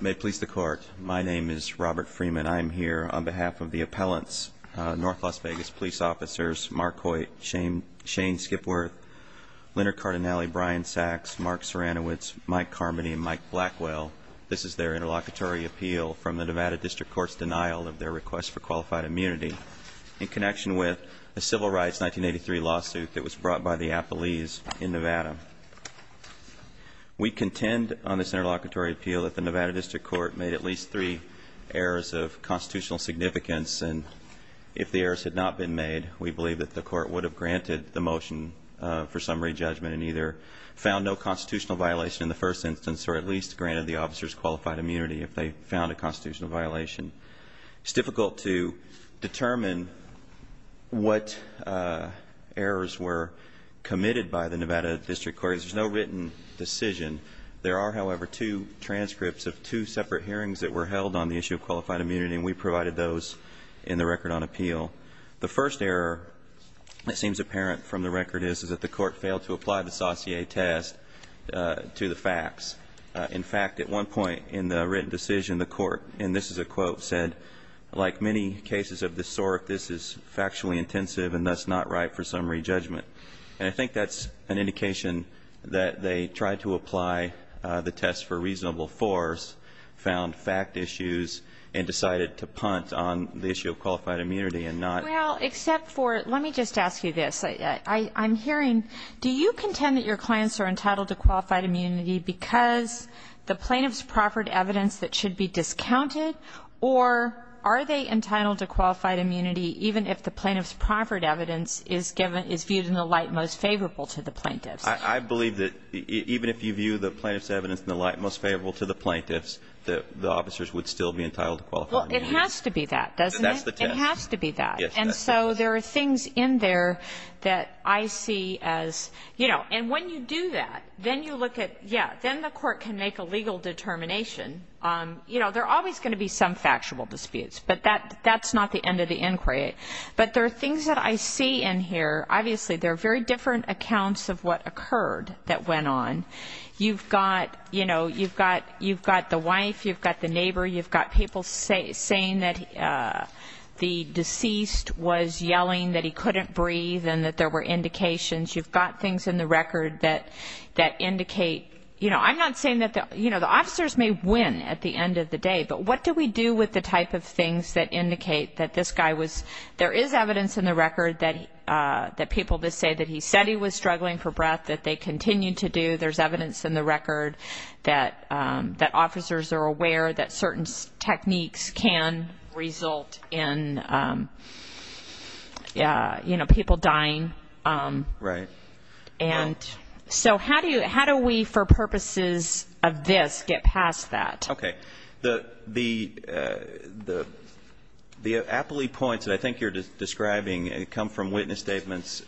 May it please the Court, my name is Robert Freeman. I'm here on behalf of the appellants, North Las Vegas Police Officers Mark Hoyt, Shane Skipworth, Leonard Cardinale, Brian Sacks, Mark Ceranowitz, Mike Carmody, and Mike Blackwell. This is their interlocutory appeal from the Nevada District Court's denial of their request for qualified immunity in connection with a Civil Rights 1983 lawsuit that was brought by the appellees in Nevada. We contend on this interlocutory appeal that the Nevada District Court made at least three errors of constitutional significance and if the errors had not been made, we believe that the court would have granted the motion for summary judgment and either found no constitutional violation in the first instance or at least granted the officers qualified immunity if they found a constitutional violation. It's difficult to determine what errors were committed by the Nevada District Court. There's no written decision. There are, however, two transcripts of two separate hearings that were held on the issue of qualified immunity and we provided those in the record on appeal. The first error that seems apparent from the record is that the court failed to apply the Saussure test to the facts. In fact, at one point in the written decision, the court, and this is a quote, said, like many cases of this sort, this is factually intensive and thus not right for summary judgment. And I think that's an indication that they tried to apply the test for reasonable force, found fact issues, and decided to punt on the issue of qualified immunity and not Well, except for, let me just ask you this. I'm hearing, do you contend that your clients are entitled to qualified immunity because the plaintiff's proffered evidence that should be discounted? Or are they entitled to qualified immunity even if the plaintiff's proffered evidence is viewed in the light most favorable to the plaintiffs? I believe that even if you view the plaintiff's evidence in the light most favorable to the plaintiffs, the officers would still be entitled to qualified immunity. Well, it has to be that, doesn't it? It has to be that. And so there are things in there that I see as, you know, and when you do that, then you look at, yeah, then the court can make a legal determination. You know, there are always going to be some factual disputes, but that's not the end of the inquiry. But there are things that I see in here. Obviously, there are very different accounts of what occurred that went on. You've got, you know, you've got the wife, you've got the neighbor, you've got people saying that the deceased was yelling that he couldn't breathe and that there were indications. You've got things in the record that indicate, you know, I'm not saying that, you know, the officers may win at the end of the day, but what do we do with the type of things that indicate that this guy was, there is evidence in the record that people say that he said he was struggling for breath, that they continue to do, there's evidence in the record that officers are aware that certain techniques can result in, you know, people dying. Right. And so how do we, for purposes of this, get past that? Okay. The appellee points that I think you're describing come from witness statements,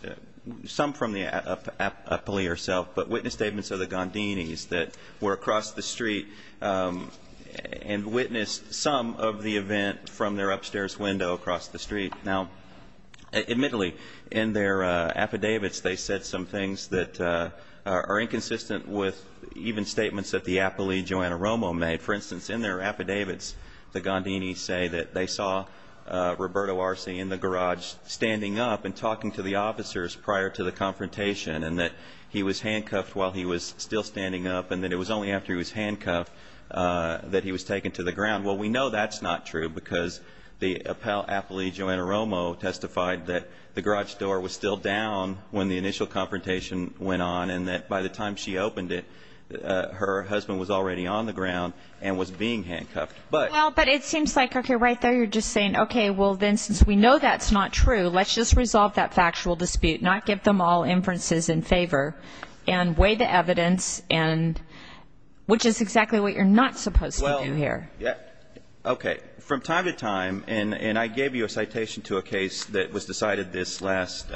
some from the appellee herself, but witness statements of the Gondinis that were across the street and witnessed some of the event from their upstairs window across the street. Now, admittedly, in their affidavits, they said some things that are inconsistent with even statements that the appellee, Joanna Romo, made. For instance, in their affidavits, the Gondinis say that they saw Roberto Arce in the garage standing up and talking to the officers prior to the confrontation and that he was handcuffed while he was still standing up and that it was only after he was handcuffed that he was taken to the ground. Well, we know that's not true because the appellee, Joanna Romo, testified that the garage door was still down when the initial confrontation went on and that by the time she opened it, her husband was already on the ground and was being handcuffed. But it seems like, okay, right there you're just saying, okay, well, then since we know that's not true, let's just resolve that factual dispute, not give them all inferences in favor, and weigh the evidence, which is exactly what you're not supposed to do here. Okay. From time to time, and I gave you a citation to a case that was decided this last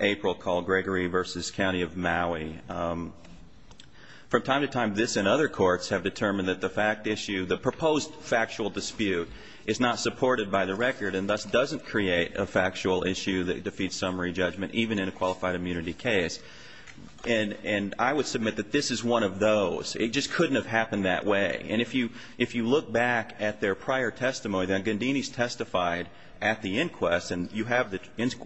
April called Gregory v. County of Maui, from time to time this and other courts have determined that the fact issue, the proposed factual dispute is not supported by the record and thus doesn't create a factual issue that defeats summary judgment even in a qualified immunity case. And I would submit that this is one of those. It just couldn't have happened that way. And if you look back at their prior testimony, the Gondinis testified at the inquest, and you have the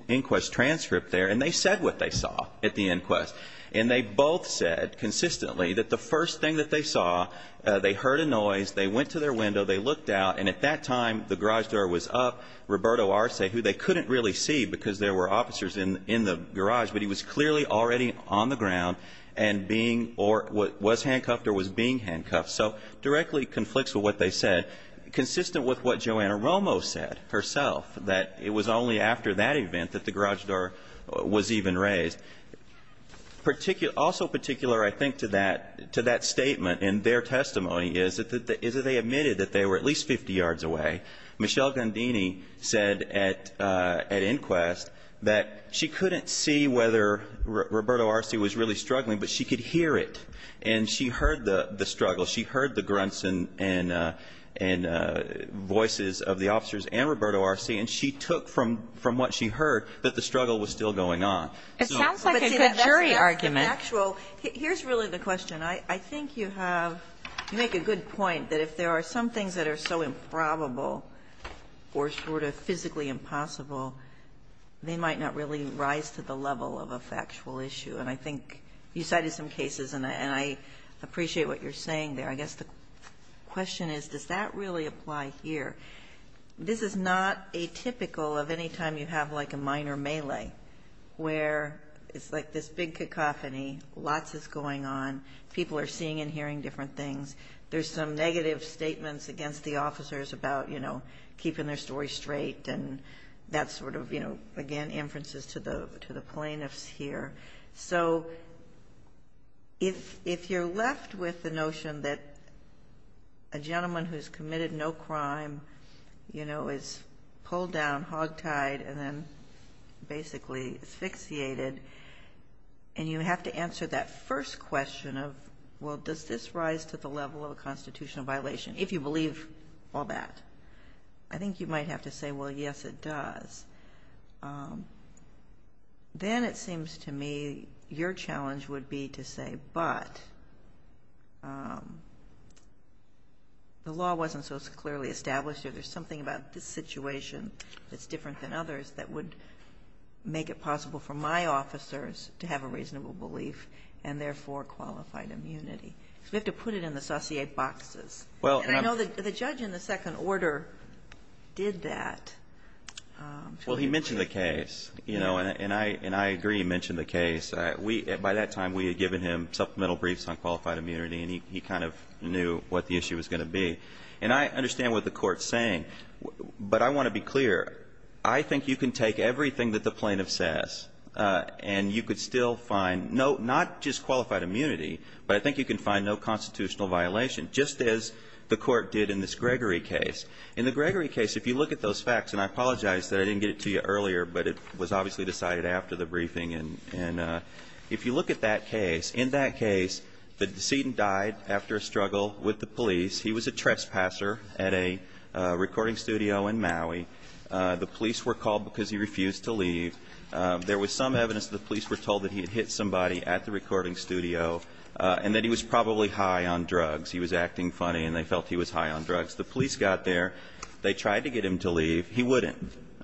inquest transcript there, and they said what they saw at the inquest. And they both said consistently that the first thing that they saw, they heard a noise, they went to their window, they looked out, and at that time the garage door was up, Roberto Arce, who they couldn't really see because there were officers in the garage, but he was clearly already on the ground and being or was handcuffed or was being handcuffed. So directly conflicts with what they said, consistent with what Joanna Romo said herself, that it was only after that event that the garage door was even raised. Also particular, I think, to that statement in their testimony is that they admitted that they were at least 50 yards away. Michelle Gondini said at inquest that she couldn't see whether Roberto Arce was really struggling, but she could hear it. And she heard the struggle. She heard the grunts and voices of the officers and Roberto Arce, and she took from what she heard that the struggle was still going on. So that's an actual. Here's really the question. I think you have to make a good point that if there are some things that are so improbable or sort of physically impossible, they might not really rise to the level of a factual issue, and I think you cited some cases, and I appreciate what you're saying there. I guess the question is, does that really apply here? This is not atypical of any time you have like a minor melee where it's like this big cacophony, lots is going on, people are seeing and hearing different things. There's some negative statements against the officers about, you know, keeping their story straight, and that's sort of, you know, again, inferences to the plaintiffs here. So if you're left with the notion that a gentleman who's committed no crime, you know, is pulled down, hogtied, and then basically asphyxiated, and you have to answer that first question of, well, does this rise to the level of a constitutional violation, if you believe all that? I think you might have to say, well, yes, it does. Then it seems to me your challenge would be to say, but the law wasn't so clearly established or there's something about this situation that's different than others that would make it possible for my officers to have a reasonable belief and therefore qualified immunity. So we have to put it in the saucier boxes. And I know the judge in the second order did that. Well, he mentioned the case, you know, and I agree he mentioned the case. By that time we had given him supplemental briefs on qualified immunity, and he kind of knew what the issue was going to be. And I understand what the Court's saying, but I want to be clear. I think you can take everything that the plaintiff says and you could still find not just the court did in this Gregory case. In the Gregory case, if you look at those facts, and I apologize that I didn't get it to you earlier, but it was obviously decided after the briefing. And if you look at that case, in that case the decedent died after a struggle with the police. He was a trespasser at a recording studio in Maui. The police were called because he refused to leave. There was some evidence that the police were told that he had hit somebody at the recording studio and that he was probably high on drugs. He was acting funny and they felt he was high on drugs. The police got there. They tried to get him to leave. He wouldn't.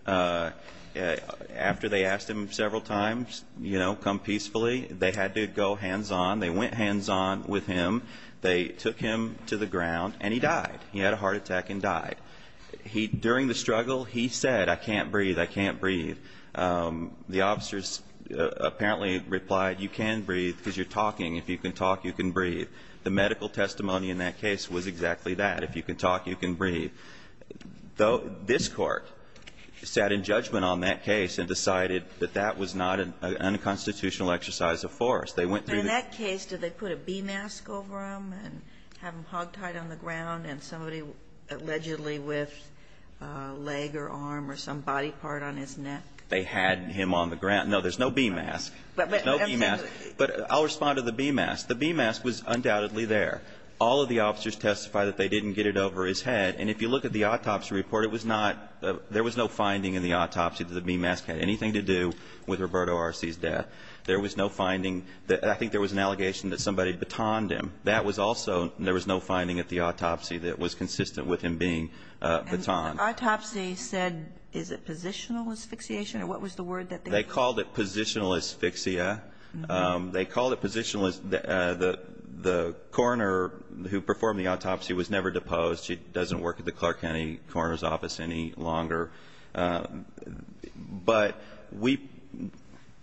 After they asked him several times, you know, come peacefully, they had to go hands-on. They went hands-on with him. They took him to the ground, and he died. He had a heart attack and died. During the struggle, he said, I can't breathe, I can't breathe. The officers apparently replied, you can breathe because you're talking. If you can talk, you can breathe. The medical testimony in that case was exactly that. If you can talk, you can breathe. Though this Court sat in judgment on that case and decided that that was not an unconstitutional exercise of force. They went through the ---- And in that case, did they put a B-mask over him and have him hogtied on the ground and somebody allegedly whiffed a leg or arm or some body part on his neck? They had him on the ground. No, there's no B-mask. There's no B-mask. But I'll respond to the B-mask. The B-mask was undoubtedly there. All of the officers testified that they didn't get it over his head. And if you look at the autopsy report, it was not ---- there was no finding in the autopsy that the B-mask had anything to do with Roberto Arce's death. There was no finding that ---- I think there was an allegation that somebody batoned him. That was also ---- there was no finding at the autopsy that was consistent with him being batoned. And the autopsy said, is it positional asphyxiation, or what was the word that they used? They called it positional asphyxia. They called it positional as the coroner who performed the autopsy was never deposed. She doesn't work at the Clark County Coroner's Office any longer. But we ----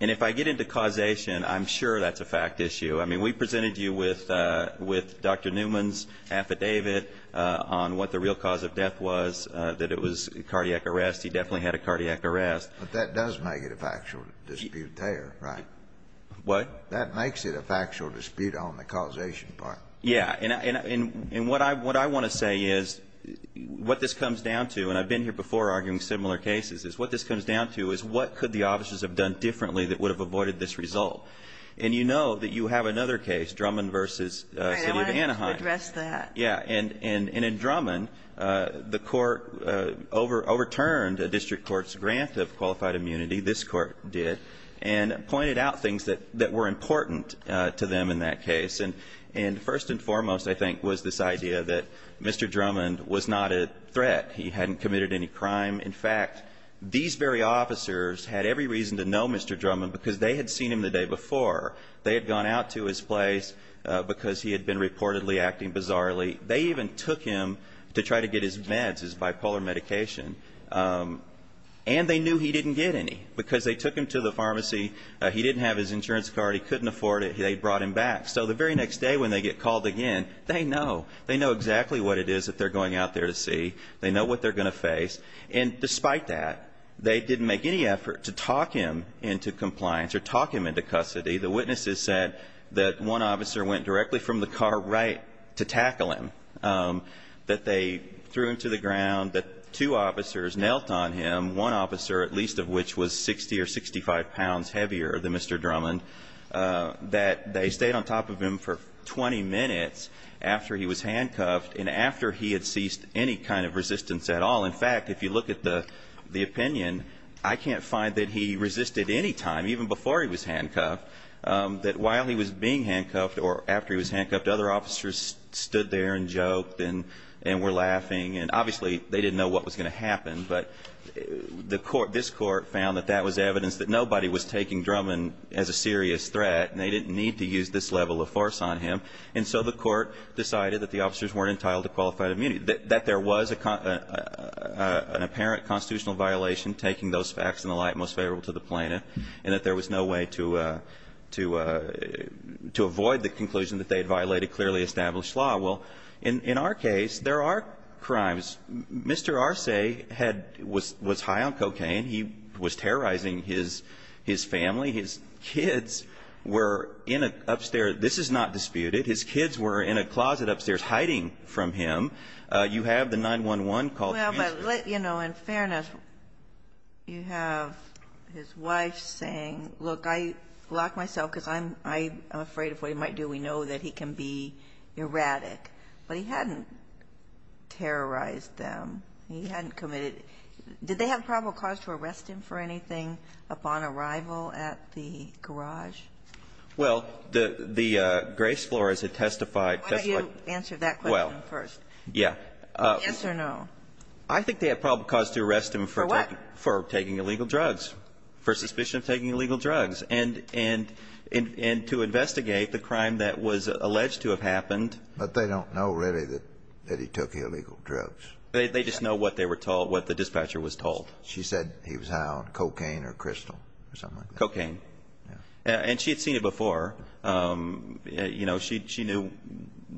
and if I get into causation, I'm sure that's a fact issue. I mean, we presented you with Dr. Newman's affidavit on what the real cause of death was, that it was cardiac arrest. He definitely had a cardiac arrest. But that does make it a factual dispute there, right? What? That makes it a factual dispute on the causation part. Yeah. And what I want to say is what this comes down to, and I've been here before arguing similar cases, is what this comes down to is what could the officers have done differently that would have avoided this result. And you know that you have another case, Drummond v. City of Anaheim. I want to address that. Yeah. And in Drummond, the court overturned a district court's grant of qualified immunity, this court did, and pointed out things that were important to them in that case. And first and foremost, I think, was this idea that Mr. Drummond was not a threat. He hadn't committed any crime. In fact, these very officers had every reason to know Mr. Drummond because they had seen him the day before. They had gone out to his place because he had been reportedly acting bizarrely. They even took him to try to get his meds, his bipolar medication, and they knew he didn't get any because they took him to the pharmacy. He didn't have his insurance card. He couldn't afford it. They brought him back. So the very next day when they get called again, they know. They know exactly what it is that they're going out there to see. They know what they're going to face. And despite that, they didn't make any effort to talk him into compliance or talk him into custody. The witnesses said that one officer went directly from the car right to tackle him, that they threw him to the ground, that two officers knelt on him, one officer at least of which was 60 or 65 pounds heavier than Mr. Drummond, that they stayed on top of him for 20 minutes after he was handcuffed and after he had ceased any kind of resistance at all. In fact, if you look at the opinion, I can't find that he resisted any time, even before he was handcuffed, that while he was being handcuffed or after he was handcuffed, other officers stood there and joked and were laughing. And obviously they didn't know what was going to happen, but this court found that that was evidence that nobody was taking Drummond as a serious threat and they didn't need to use this level of force on him. And so the court decided that the officers weren't entitled to qualified immunity, that there was an apparent constitutional violation, taking those facts in the light most favorable to the plaintiff, and that there was no way to avoid the conclusion that they had violated clearly established law. Well, in our case, there are crimes. Mr. Arce was high on cocaine. He was terrorizing his family. His kids were in an upstairs – this is not disputed. His kids were in a closet upstairs hiding from him. You have the 911 call. Well, but, you know, in fairness, you have his wife saying, look, I block myself because I'm afraid of what he might do. We know that he can be erratic. But he hadn't terrorized them. He hadn't committed – did they have probable cause to arrest him for anything upon arrival at the garage? Well, the Grace Flores had testified – Why don't you answer that question first? Yeah. Yes or no? I think they had probable cause to arrest him for taking illegal drugs, for suspicion of taking illegal drugs, and to investigate the crime that was alleged to have happened. But they don't know, really, that he took illegal drugs. They just know what they were told, what the dispatcher was told. She said he was high on cocaine or crystal or something like that. Cocaine. Yeah. And she had seen it before. You know, she knew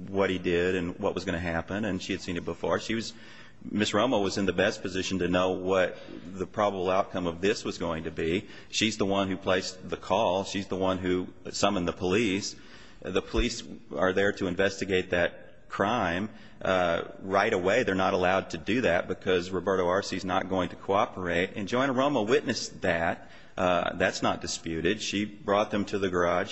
what he did and what was going to happen, and she had seen it before. She was – Ms. Romo was in the best position to know what the probable outcome of this was going to be. She's the one who placed the call. She's the one who summoned the police. The police are there to investigate that crime right away. They're not allowed to do that because Roberto Arce is not going to cooperate. And Joanna Romo witnessed that. That's not disputed. She brought them to the garage.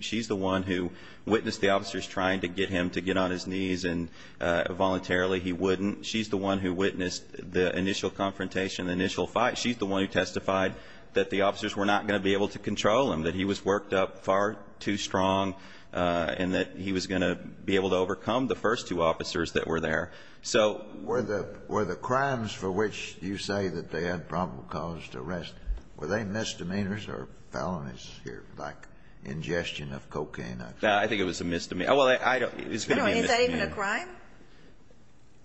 She's the one who witnessed the officers trying to get him to get on his knees, and voluntarily he wouldn't. She's the one who witnessed the initial confrontation, the initial fight. She's the one who testified that the officers were not going to be able to control him, that he was worked up far too strong, and that he was going to be able to overcome the first two officers that were there. So – Were the crimes for which you say that they had probable cause to arrest, were they misdemeanors or felonies here, like ingestion of cocaine? No, I think it was a misdemeanor. Well, it's going to be a misdemeanor. Is that even a crime?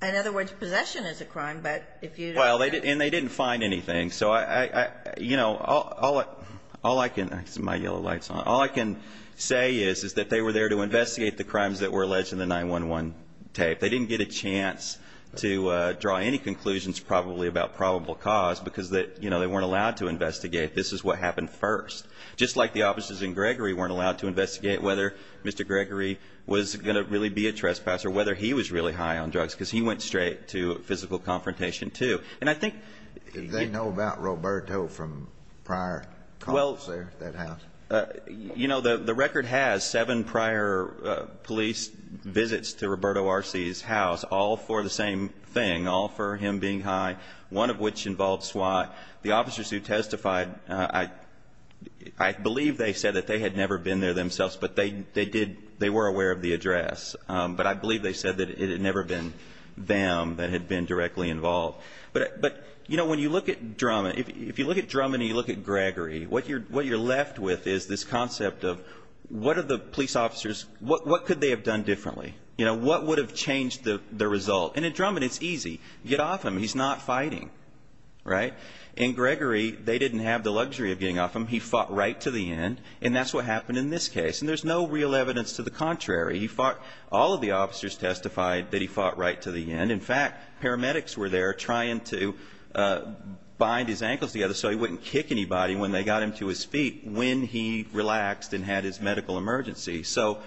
In other words, possession is a crime, but if you – Well, and they didn't find anything. So I – you know, all I can – my yellow light's on. All I can say is, is that they were there to investigate the crimes that were alleged in the 9-1-1 tape. They didn't get a chance to draw any conclusions probably about probable cause because, you know, they weren't allowed to investigate. This is what happened first. Just like the officers in Gregory weren't allowed to investigate whether Mr. Gregory was going to really be a trespasser, whether he was really high on drugs, because he went straight to physical confrontation, too. And I think – Do they know about Roberto from prior calls there at that house? You know, the record has seven prior police visits to Roberto Arce's house, all for the same thing, all for him being high, one of which involved SWAT. The officers who testified, I believe they said that they had never been there themselves, but they did – they were aware of the address. But I believe they said that it had never been them that had been directly involved. But, you know, when you look at – if you look at Drummond and you look at Gregory, what you're left with is this concept of what are the police officers – what could they have done differently? You know, what would have changed the result? And in Drummond, it's easy. Get off him. He's not fighting, right? In Gregory, they didn't have the luxury of getting off him. He fought right to the end, and that's what happened in this case. And there's no real evidence to the contrary. He fought – all of the officers testified that he fought right to the end. In fact, paramedics were there trying to bind his ankles together so he wouldn't kick anybody when they got him to his feet when he relaxed and had his medical emergency. So,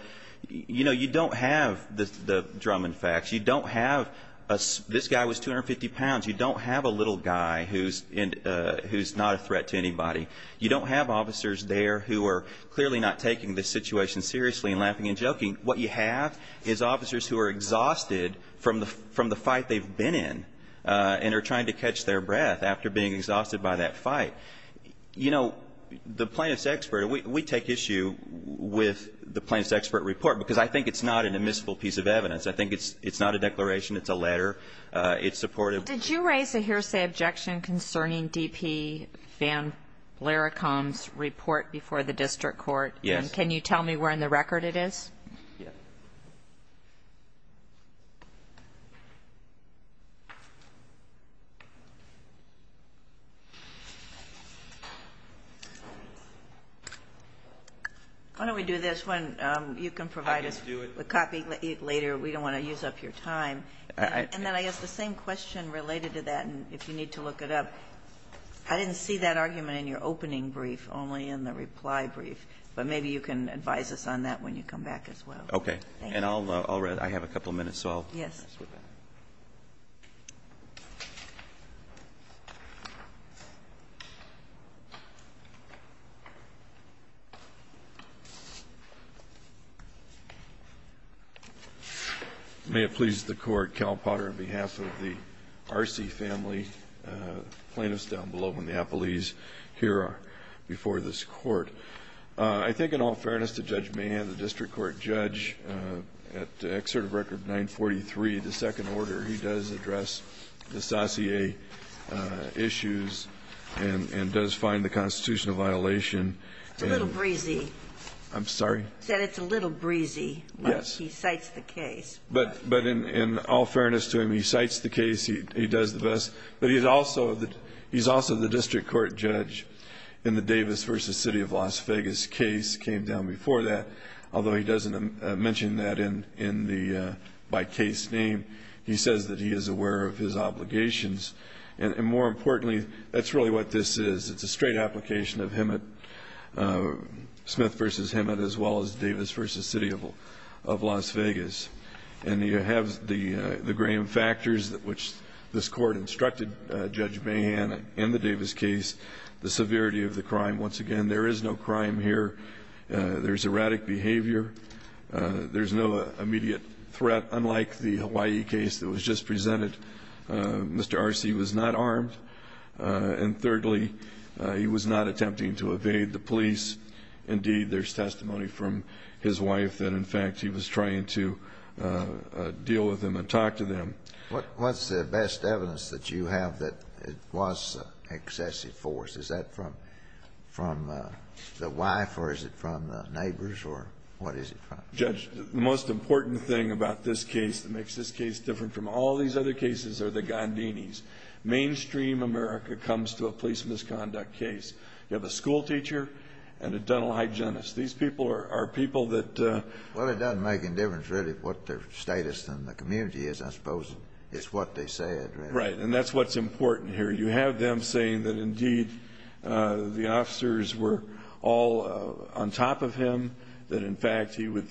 you know, you don't have the Drummond facts. You don't have – this guy was 250 pounds. You don't have a little guy who's not a threat to anybody. You don't have officers there who are clearly not taking this situation seriously and laughing and joking. What you have is officers who are exhausted from the fight they've been in and are trying to catch their breath after being exhausted by that fight. You know, the plaintiff's expert, we take issue with the plaintiff's expert report because I think it's not an admissible piece of evidence. I think it's not a declaration. It's a letter. It's supported. Did you raise a hearsay objection concerning D.P. Van Lerachom's report before the district court? Yes. And can you tell me where in the record it is? Yeah. Why don't we do this one? You can provide us a copy later. We don't want to use up your time. And then I guess the same question related to that, if you need to look it up. I didn't see that argument in your opening brief, only in the reply brief, but maybe you can advise us on that when you come back as well. Okay. Thank you. And I'll read. I have a couple minutes, so I'll skip it. Yes. May it please the Court, Cal Potter, on behalf of the Arce family plaintiffs to address the issue of the case before the district court. I think in all fairness to Judge Mahan, the district court judge at Excerpt of Record 943, the second order, he does address the sassie issues and does find the constitutional violation. It's a little breezy. I'm sorry? He said it's a little breezy. Yes. He cites the case. But in all fairness to him, he cites the case. He does the best. But he's also the district court judge in the Davis v. City of Las Vegas case, came down before that. Although he doesn't mention that by case name, he says that he is aware of his obligations. And more importantly, that's really what this is. It's a straight application of Smith v. Hemet as well as Davis v. City of Las Vegas. And you have the Graham factors, which this court instructed Judge Mahan in the Davis case, the severity of the crime. Once again, there is no crime here. There's erratic behavior. There's no immediate threat, unlike the Hawaii case that was just presented. Mr. Arce was not armed. And thirdly, he was not attempting to evade the police. Indeed, there's testimony from his wife that, in fact, he was trying to deal with them and talk to them. What's the best evidence that you have that it was excessive force? Is that from the wife, or is it from the neighbors, or what is it from? Judge, the most important thing about this case that makes this case different from all these other cases are the Gandinis. Mainstream America comes to a police misconduct case. You have a schoolteacher and a dental hygienist. These people are people that Well, it doesn't make any difference, really, what their status in the community is, I suppose. It's what they said. Right, and that's what's important here. You have them saying that, indeed, the officers were all on top of him, that, in fact, he was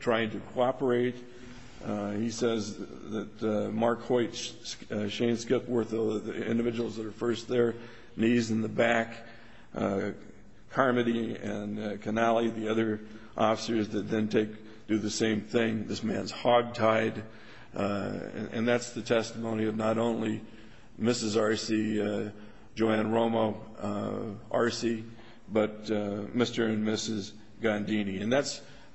trying to cooperate. He says that Mark Hoyt, Shane Skipworth, the individuals that are first there, knees in the back, Carmody and Canale, the other officers that then do the same thing, this man's hogtied. And that's the testimony of not only Mrs. Arce, Joanne Romo, Arce, but Mr. and Mrs. Gandini. And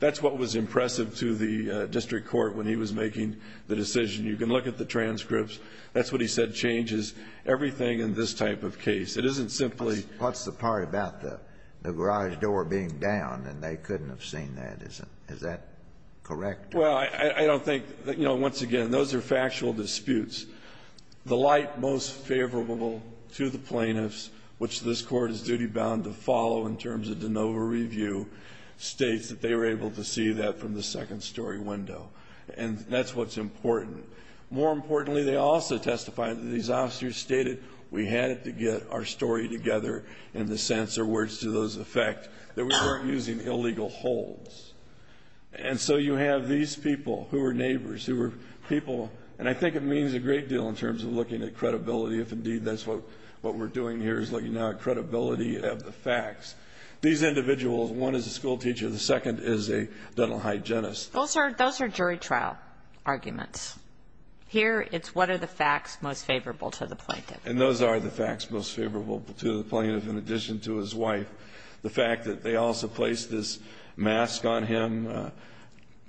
that's what was impressive to the district court when he was making the decision. You can look at the transcripts. That's what he said changes everything in this type of case. It isn't simply What's the part about the garage door being down and they couldn't have seen that? Is that correct? Well, I don't think, you know, once again, those are factual disputes. The light most favorable to the plaintiffs, which this Court is duty-bound to follow in terms of de novo review, states that they were able to see that from the second-story window. And that's what's important. More importantly, they also testified that these officers stated we had to get our story together in the sense or words to those effect that we weren't using illegal holds. And so you have these people who were neighbors, who were people. And I think it means a great deal in terms of looking at credibility, if indeed that's what we're doing here is looking at credibility of the facts. These individuals, one is a schoolteacher. The second is a dental hygienist. Those are jury trial arguments. Here it's what are the facts most favorable to the plaintiff. And those are the facts most favorable to the plaintiff, in addition to his wife. The fact that they also placed this mask on him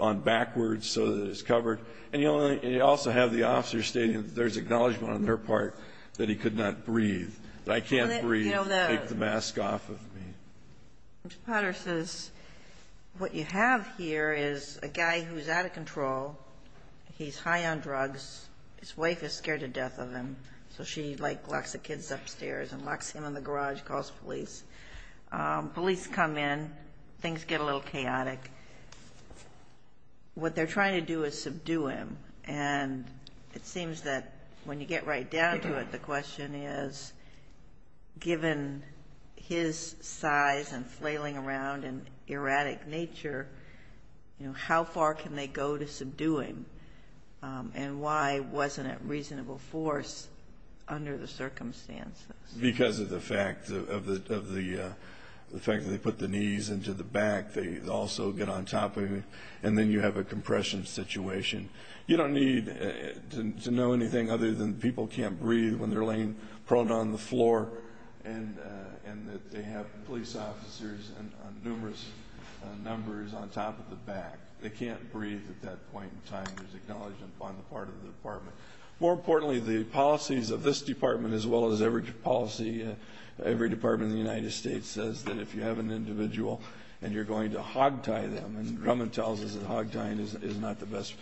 on backwards so that it's covered. And you also have the officers stating that there's acknowledgment on their part that he could not breathe, that I can't breathe, take the mask off of me. Ms. Potter says what you have here is a guy who's out of control. He's high on drugs. His wife is scared to death of him. So she, like, locks the kids upstairs and locks him in the garage, calls police. Police come in. Things get a little chaotic. What they're trying to do is subdue him. And it seems that when you get right down to it, the question is, given his size and flailing around and erratic nature, you know, how far can they go to subdue him? And why wasn't it reasonable force under the circumstances? Because of the fact that they put the knees into the back. They also get on top of him. And then you have a compression situation. You don't need to know anything other than people can't breathe when they're laying prone on the floor and that they have police officers on numerous numbers on top of the back. They can't breathe at that point in time. There's acknowledgment on the part of the department. More importantly, the policies of this department, as well as every policy, every department in the United States, says that if you have an individual and you're going to hogtie them, and Grumman tells us that hogtieing is not the best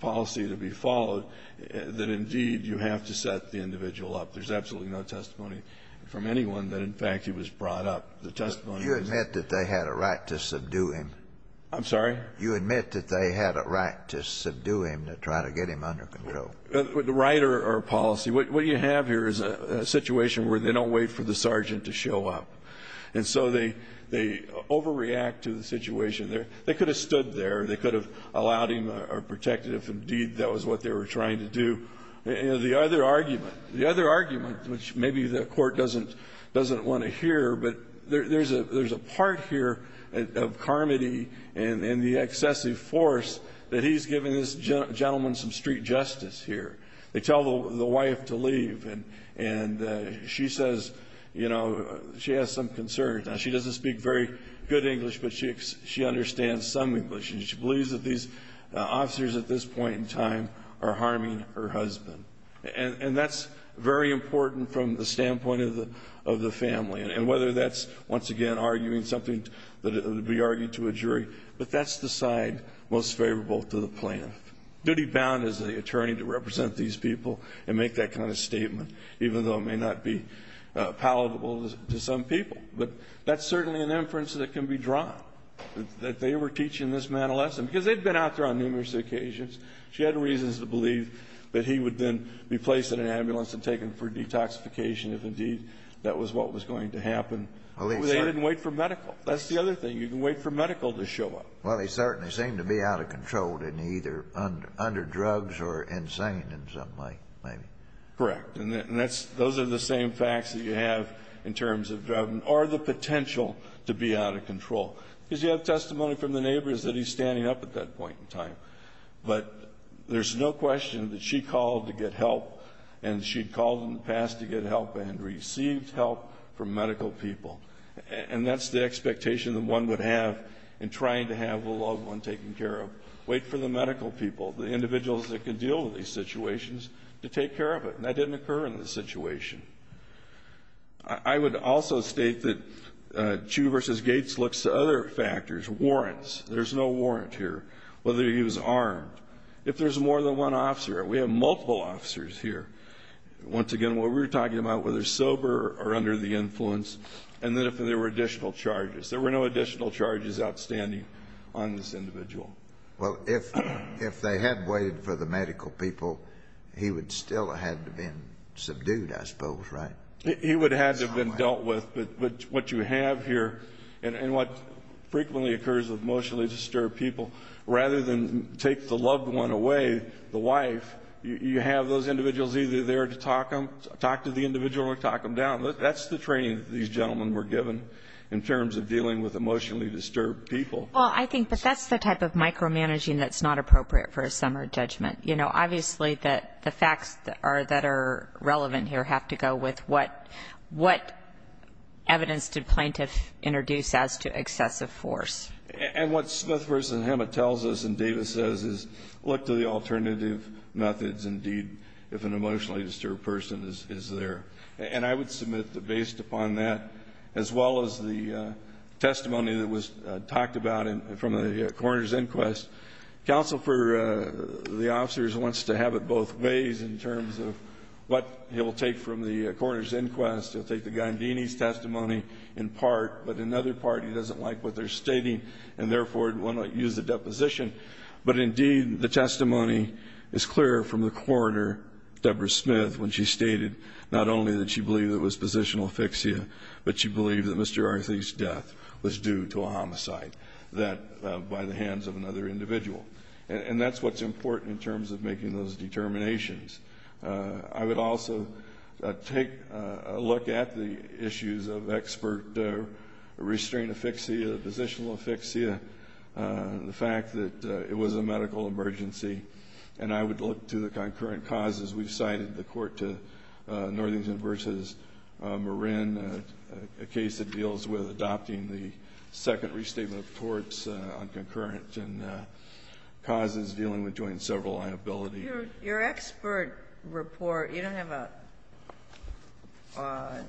policy to be followed, that, indeed, you have to set the individual up. There's absolutely no testimony from anyone that, in fact, he was brought up. The testimony is that he was brought up. You admit that they had a right to subdue him? I'm sorry? You admit that they had a right to subdue him to try to get him under control? A right or a policy. What you have here is a situation where they don't wait for the sergeant to show up. And so they overreact to the situation. They could have stood there. They could have allowed him or protected him if, indeed, that was what they were trying to do. The other argument, which maybe the court doesn't want to hear, but there's a part here of Carmody and the excessive force that he's giving this gentleman some street justice here. They tell the wife to leave, and she says, you know, she has some concerns. Now, she doesn't speak very good English, but she understands some English. She believes that these officers at this point in time are harming her husband. And that's very important from the standpoint of the family, and whether that's, once again, arguing something that would be argued to a jury. But that's the side most favorable to the plaintiff. Duty-bound is the attorney to represent these people and make that kind of statement, even though it may not be palatable to some people. But that's certainly an inference that can be drawn, that they were teaching this man a lesson, because they'd been out there on numerous occasions. She had reasons to believe that he would then be placed in an ambulance and taken for detoxification if, indeed, that was what was going to happen. They didn't wait for medical. That's the other thing. You can wait for medical to show up. Well, they certainly seem to be out of control and either under drugs or insane in some way, maybe. Correct. And those are the same facts that you have in terms of, or the potential to be out of control. Because you have testimony from the neighbors that he's standing up at that point in time. But there's no question that she called to get help, and she'd called in the past to get help and received help from medical people. And that's the expectation that one would have in trying to have a loved one taken care of. Wait for the medical people, the individuals that can deal with these situations, to take care of it. And that didn't occur in this situation. I would also state that Chu versus Gates looks to other factors, warrants. There's no warrant here, whether he was armed. If there's more than one officer, we have multiple officers here. Once again, what we're talking about, whether sober or under the influence, and then if there were additional charges. There were no additional charges outstanding on this individual. Well, if they had waited for the medical people, he would still have had to have been subdued, I suppose, right? He would have had to have been dealt with. But what you have here, and what frequently occurs with emotionally disturbed people, rather than take the loved one away, the wife, you have those individuals either there to talk to the individual or talk them down. That's the training that these gentlemen were given in terms of dealing with emotionally disturbed people. Well, I think that that's the type of micromanaging that's not appropriate for a summer judgment. You know, obviously the facts that are relevant here have to go with what evidence did plaintiff introduce as to excessive force. And what Smith versus Hema tells us and Davis says is look to the alternative methods, indeed, if an emotionally disturbed person is there. And I would submit that based upon that, as well as the testimony that was talked about from the coroner's inquest, counsel for the officers wants to have it both ways in terms of what he'll take from the coroner's inquest. He'll take the Gandini's testimony in part, but in other part he doesn't like what they're stating and therefore will not use the deposition. But, indeed, the testimony is clear from the coroner, Deborah Smith, when she stated not only that she believed it was positional asphyxia, but she believed that Mr. Arthie's death was due to a homicide by the hands of another individual. And that's what's important in terms of making those determinations. I would also take a look at the issues of expert restraint asphyxia, positional asphyxia, the fact that it was a medical emergency. And I would look to the concurrent causes. We've cited the court to Northington versus Marin, a case that deals with adopting the second restatement of courts on concurrent causes dealing with joint and several liabilities. Your expert report, you don't have a ñ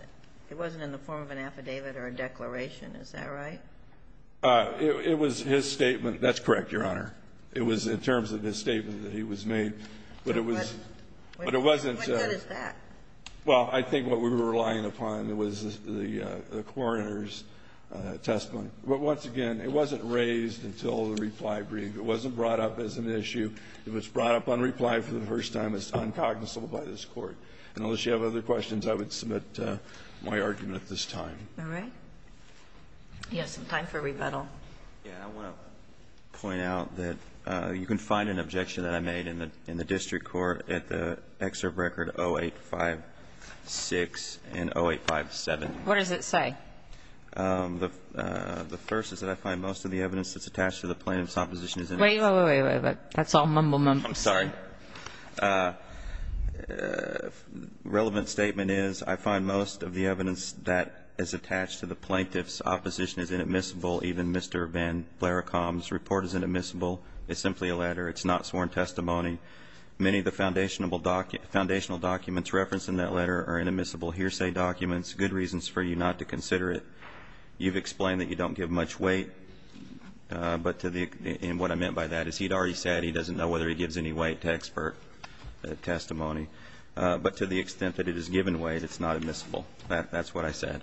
it wasn't in the form of an affidavit or a declaration. Is that right? It was his statement. That's correct, Your Honor. It was in terms of his statement that he was made. But it was ñ but it wasn't ñ How good is that? Well, I think what we were relying upon was the coroner's testimony. But, once again, it wasn't raised until the reply brief. It wasn't brought up as an issue. If it's brought up on reply for the first time, it's uncognizable by this Court. And unless you have other questions, I would submit my argument at this time. All right. Do you have some time for rebuttal? Yeah. I want to point out that you can find an objection that I made in the district court at the excerpt record 0856 and 0857. What does it say? The first is that I find most of the evidence that's attached to the plaintiff's opposition is in it. Wait, wait, wait. That's all mumble mumble. I'm sorry. Relevant statement is I find most of the evidence that is attached to the plaintiff's opposition is inadmissible. Even Mr. Van Blaricombe's report is inadmissible. It's simply a letter. It's not sworn testimony. Many of the foundational documents referenced in that letter are inadmissible hearsay documents, good reasons for you not to consider it. You've explained that you don't give much weight. But to the ñ and what I meant by that is he'd already said he doesn't know whether he gives any weight to expert testimony. But to the extent that it is given weight, it's not admissible. That's what I said.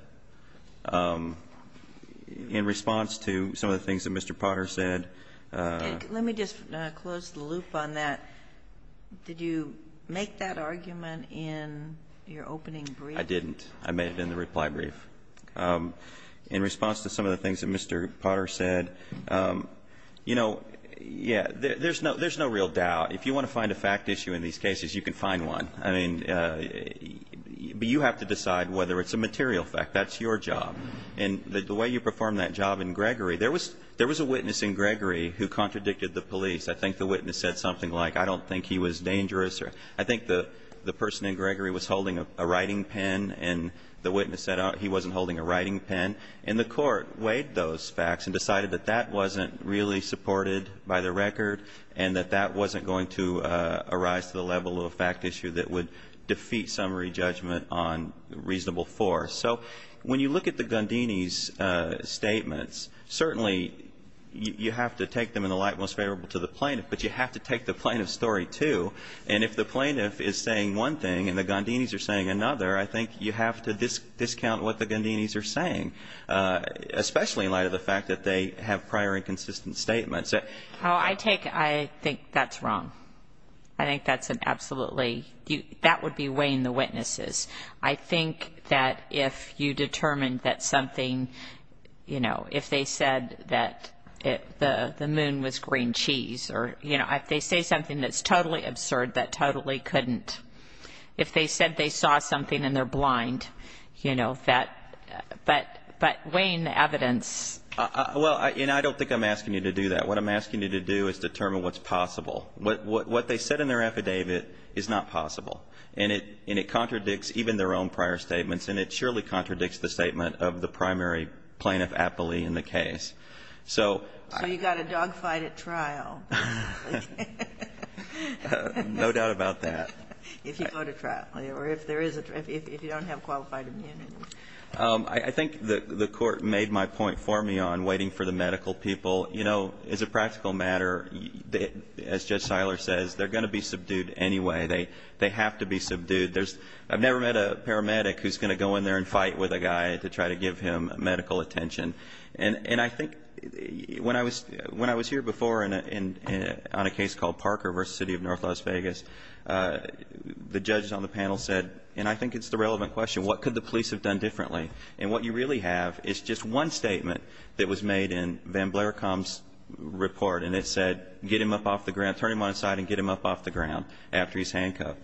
In response to some of the things that Mr. Potter said ñ Let me just close the loop on that. Did you make that argument in your opening brief? I didn't. I made it in the reply brief. In response to some of the things that Mr. Potter said, you know, yeah, there's no real doubt. If you want to find a fact issue in these cases, you can find one. I mean, but you have to decide whether it's a material fact. That's your job. And the way you performed that job in Gregory, there was a witness in Gregory who contradicted the police. I think the witness said something like, I don't think he was dangerous. I think the person in Gregory was holding a writing pen, and the witness said he wasn't holding a writing pen. And the Court weighed those facts and decided that that wasn't really supported by the record and that that wasn't going to arise to the level of a fact issue that would defeat summary judgment on reasonable force. So when you look at the Gundinis statements, certainly you have to take them in the light most favorable to the plaintiff, but you have to take the plaintiff's story too. And if the plaintiff is saying one thing and the Gundinis are saying another, I think you have to discount what the Gundinis are saying, especially in light of the I think that's wrong. I think that's an absolutely, that would be weighing the witnesses. I think that if you determine that something, you know, if they said that the moon was green cheese or, you know, if they say something that's totally absurd that totally couldn't, if they said they saw something and they're blind, you know, that, but weighing the evidence. Well, and I don't think I'm asking you to do that. What I'm asking you to do is determine what's possible. What they said in their affidavit is not possible. And it contradicts even their own prior statements, and it surely contradicts the statement of the primary plaintiff aptly in the case. So you've got to dogfight at trial. No doubt about that. If you go to trial or if there is a, if you don't have qualified immunity. I think the court made my point for me on waiting for the medical people. You know, as a practical matter, as Judge Seiler says, they're going to be subdued anyway. They have to be subdued. I've never met a paramedic who's going to go in there and fight with a guy to try to give him medical attention. And I think when I was here before on a case called Parker v. City of North Las Vegas, the judges on the panel said, and I think it's the relevant question, what could the police have done differently? And what you really have is just one statement that was made in Van Blericombe's report, and it said get him up off the ground, turn him on his side and get him up off the ground after he's handcuffed.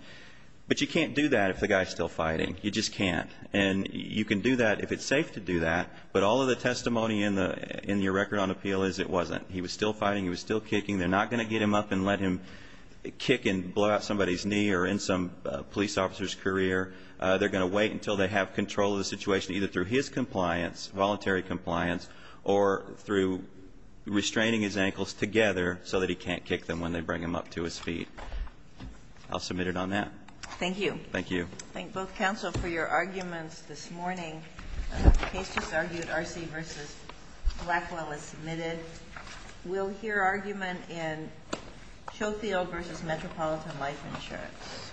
But you can't do that if the guy's still fighting. You just can't. And you can do that if it's safe to do that, but all of the testimony in your record on appeal is it wasn't. He was still fighting. He was still kicking. They're not going to get him up and let him kick and blow out somebody's knee or end some police officer's career. They're going to wait until they have control of the situation, either through his compliance, voluntary compliance, or through restraining his ankles together so that he can't kick them when they bring him up to his feet. I'll submit it on that. Thank you. Thank you. Thank both counsel for your arguments this morning. The case just argued, RC v. Blackwell is submitted. We'll hear argument in Schofield v. Metropolitan Life Insurance. Thank you. Thank you. Thank you.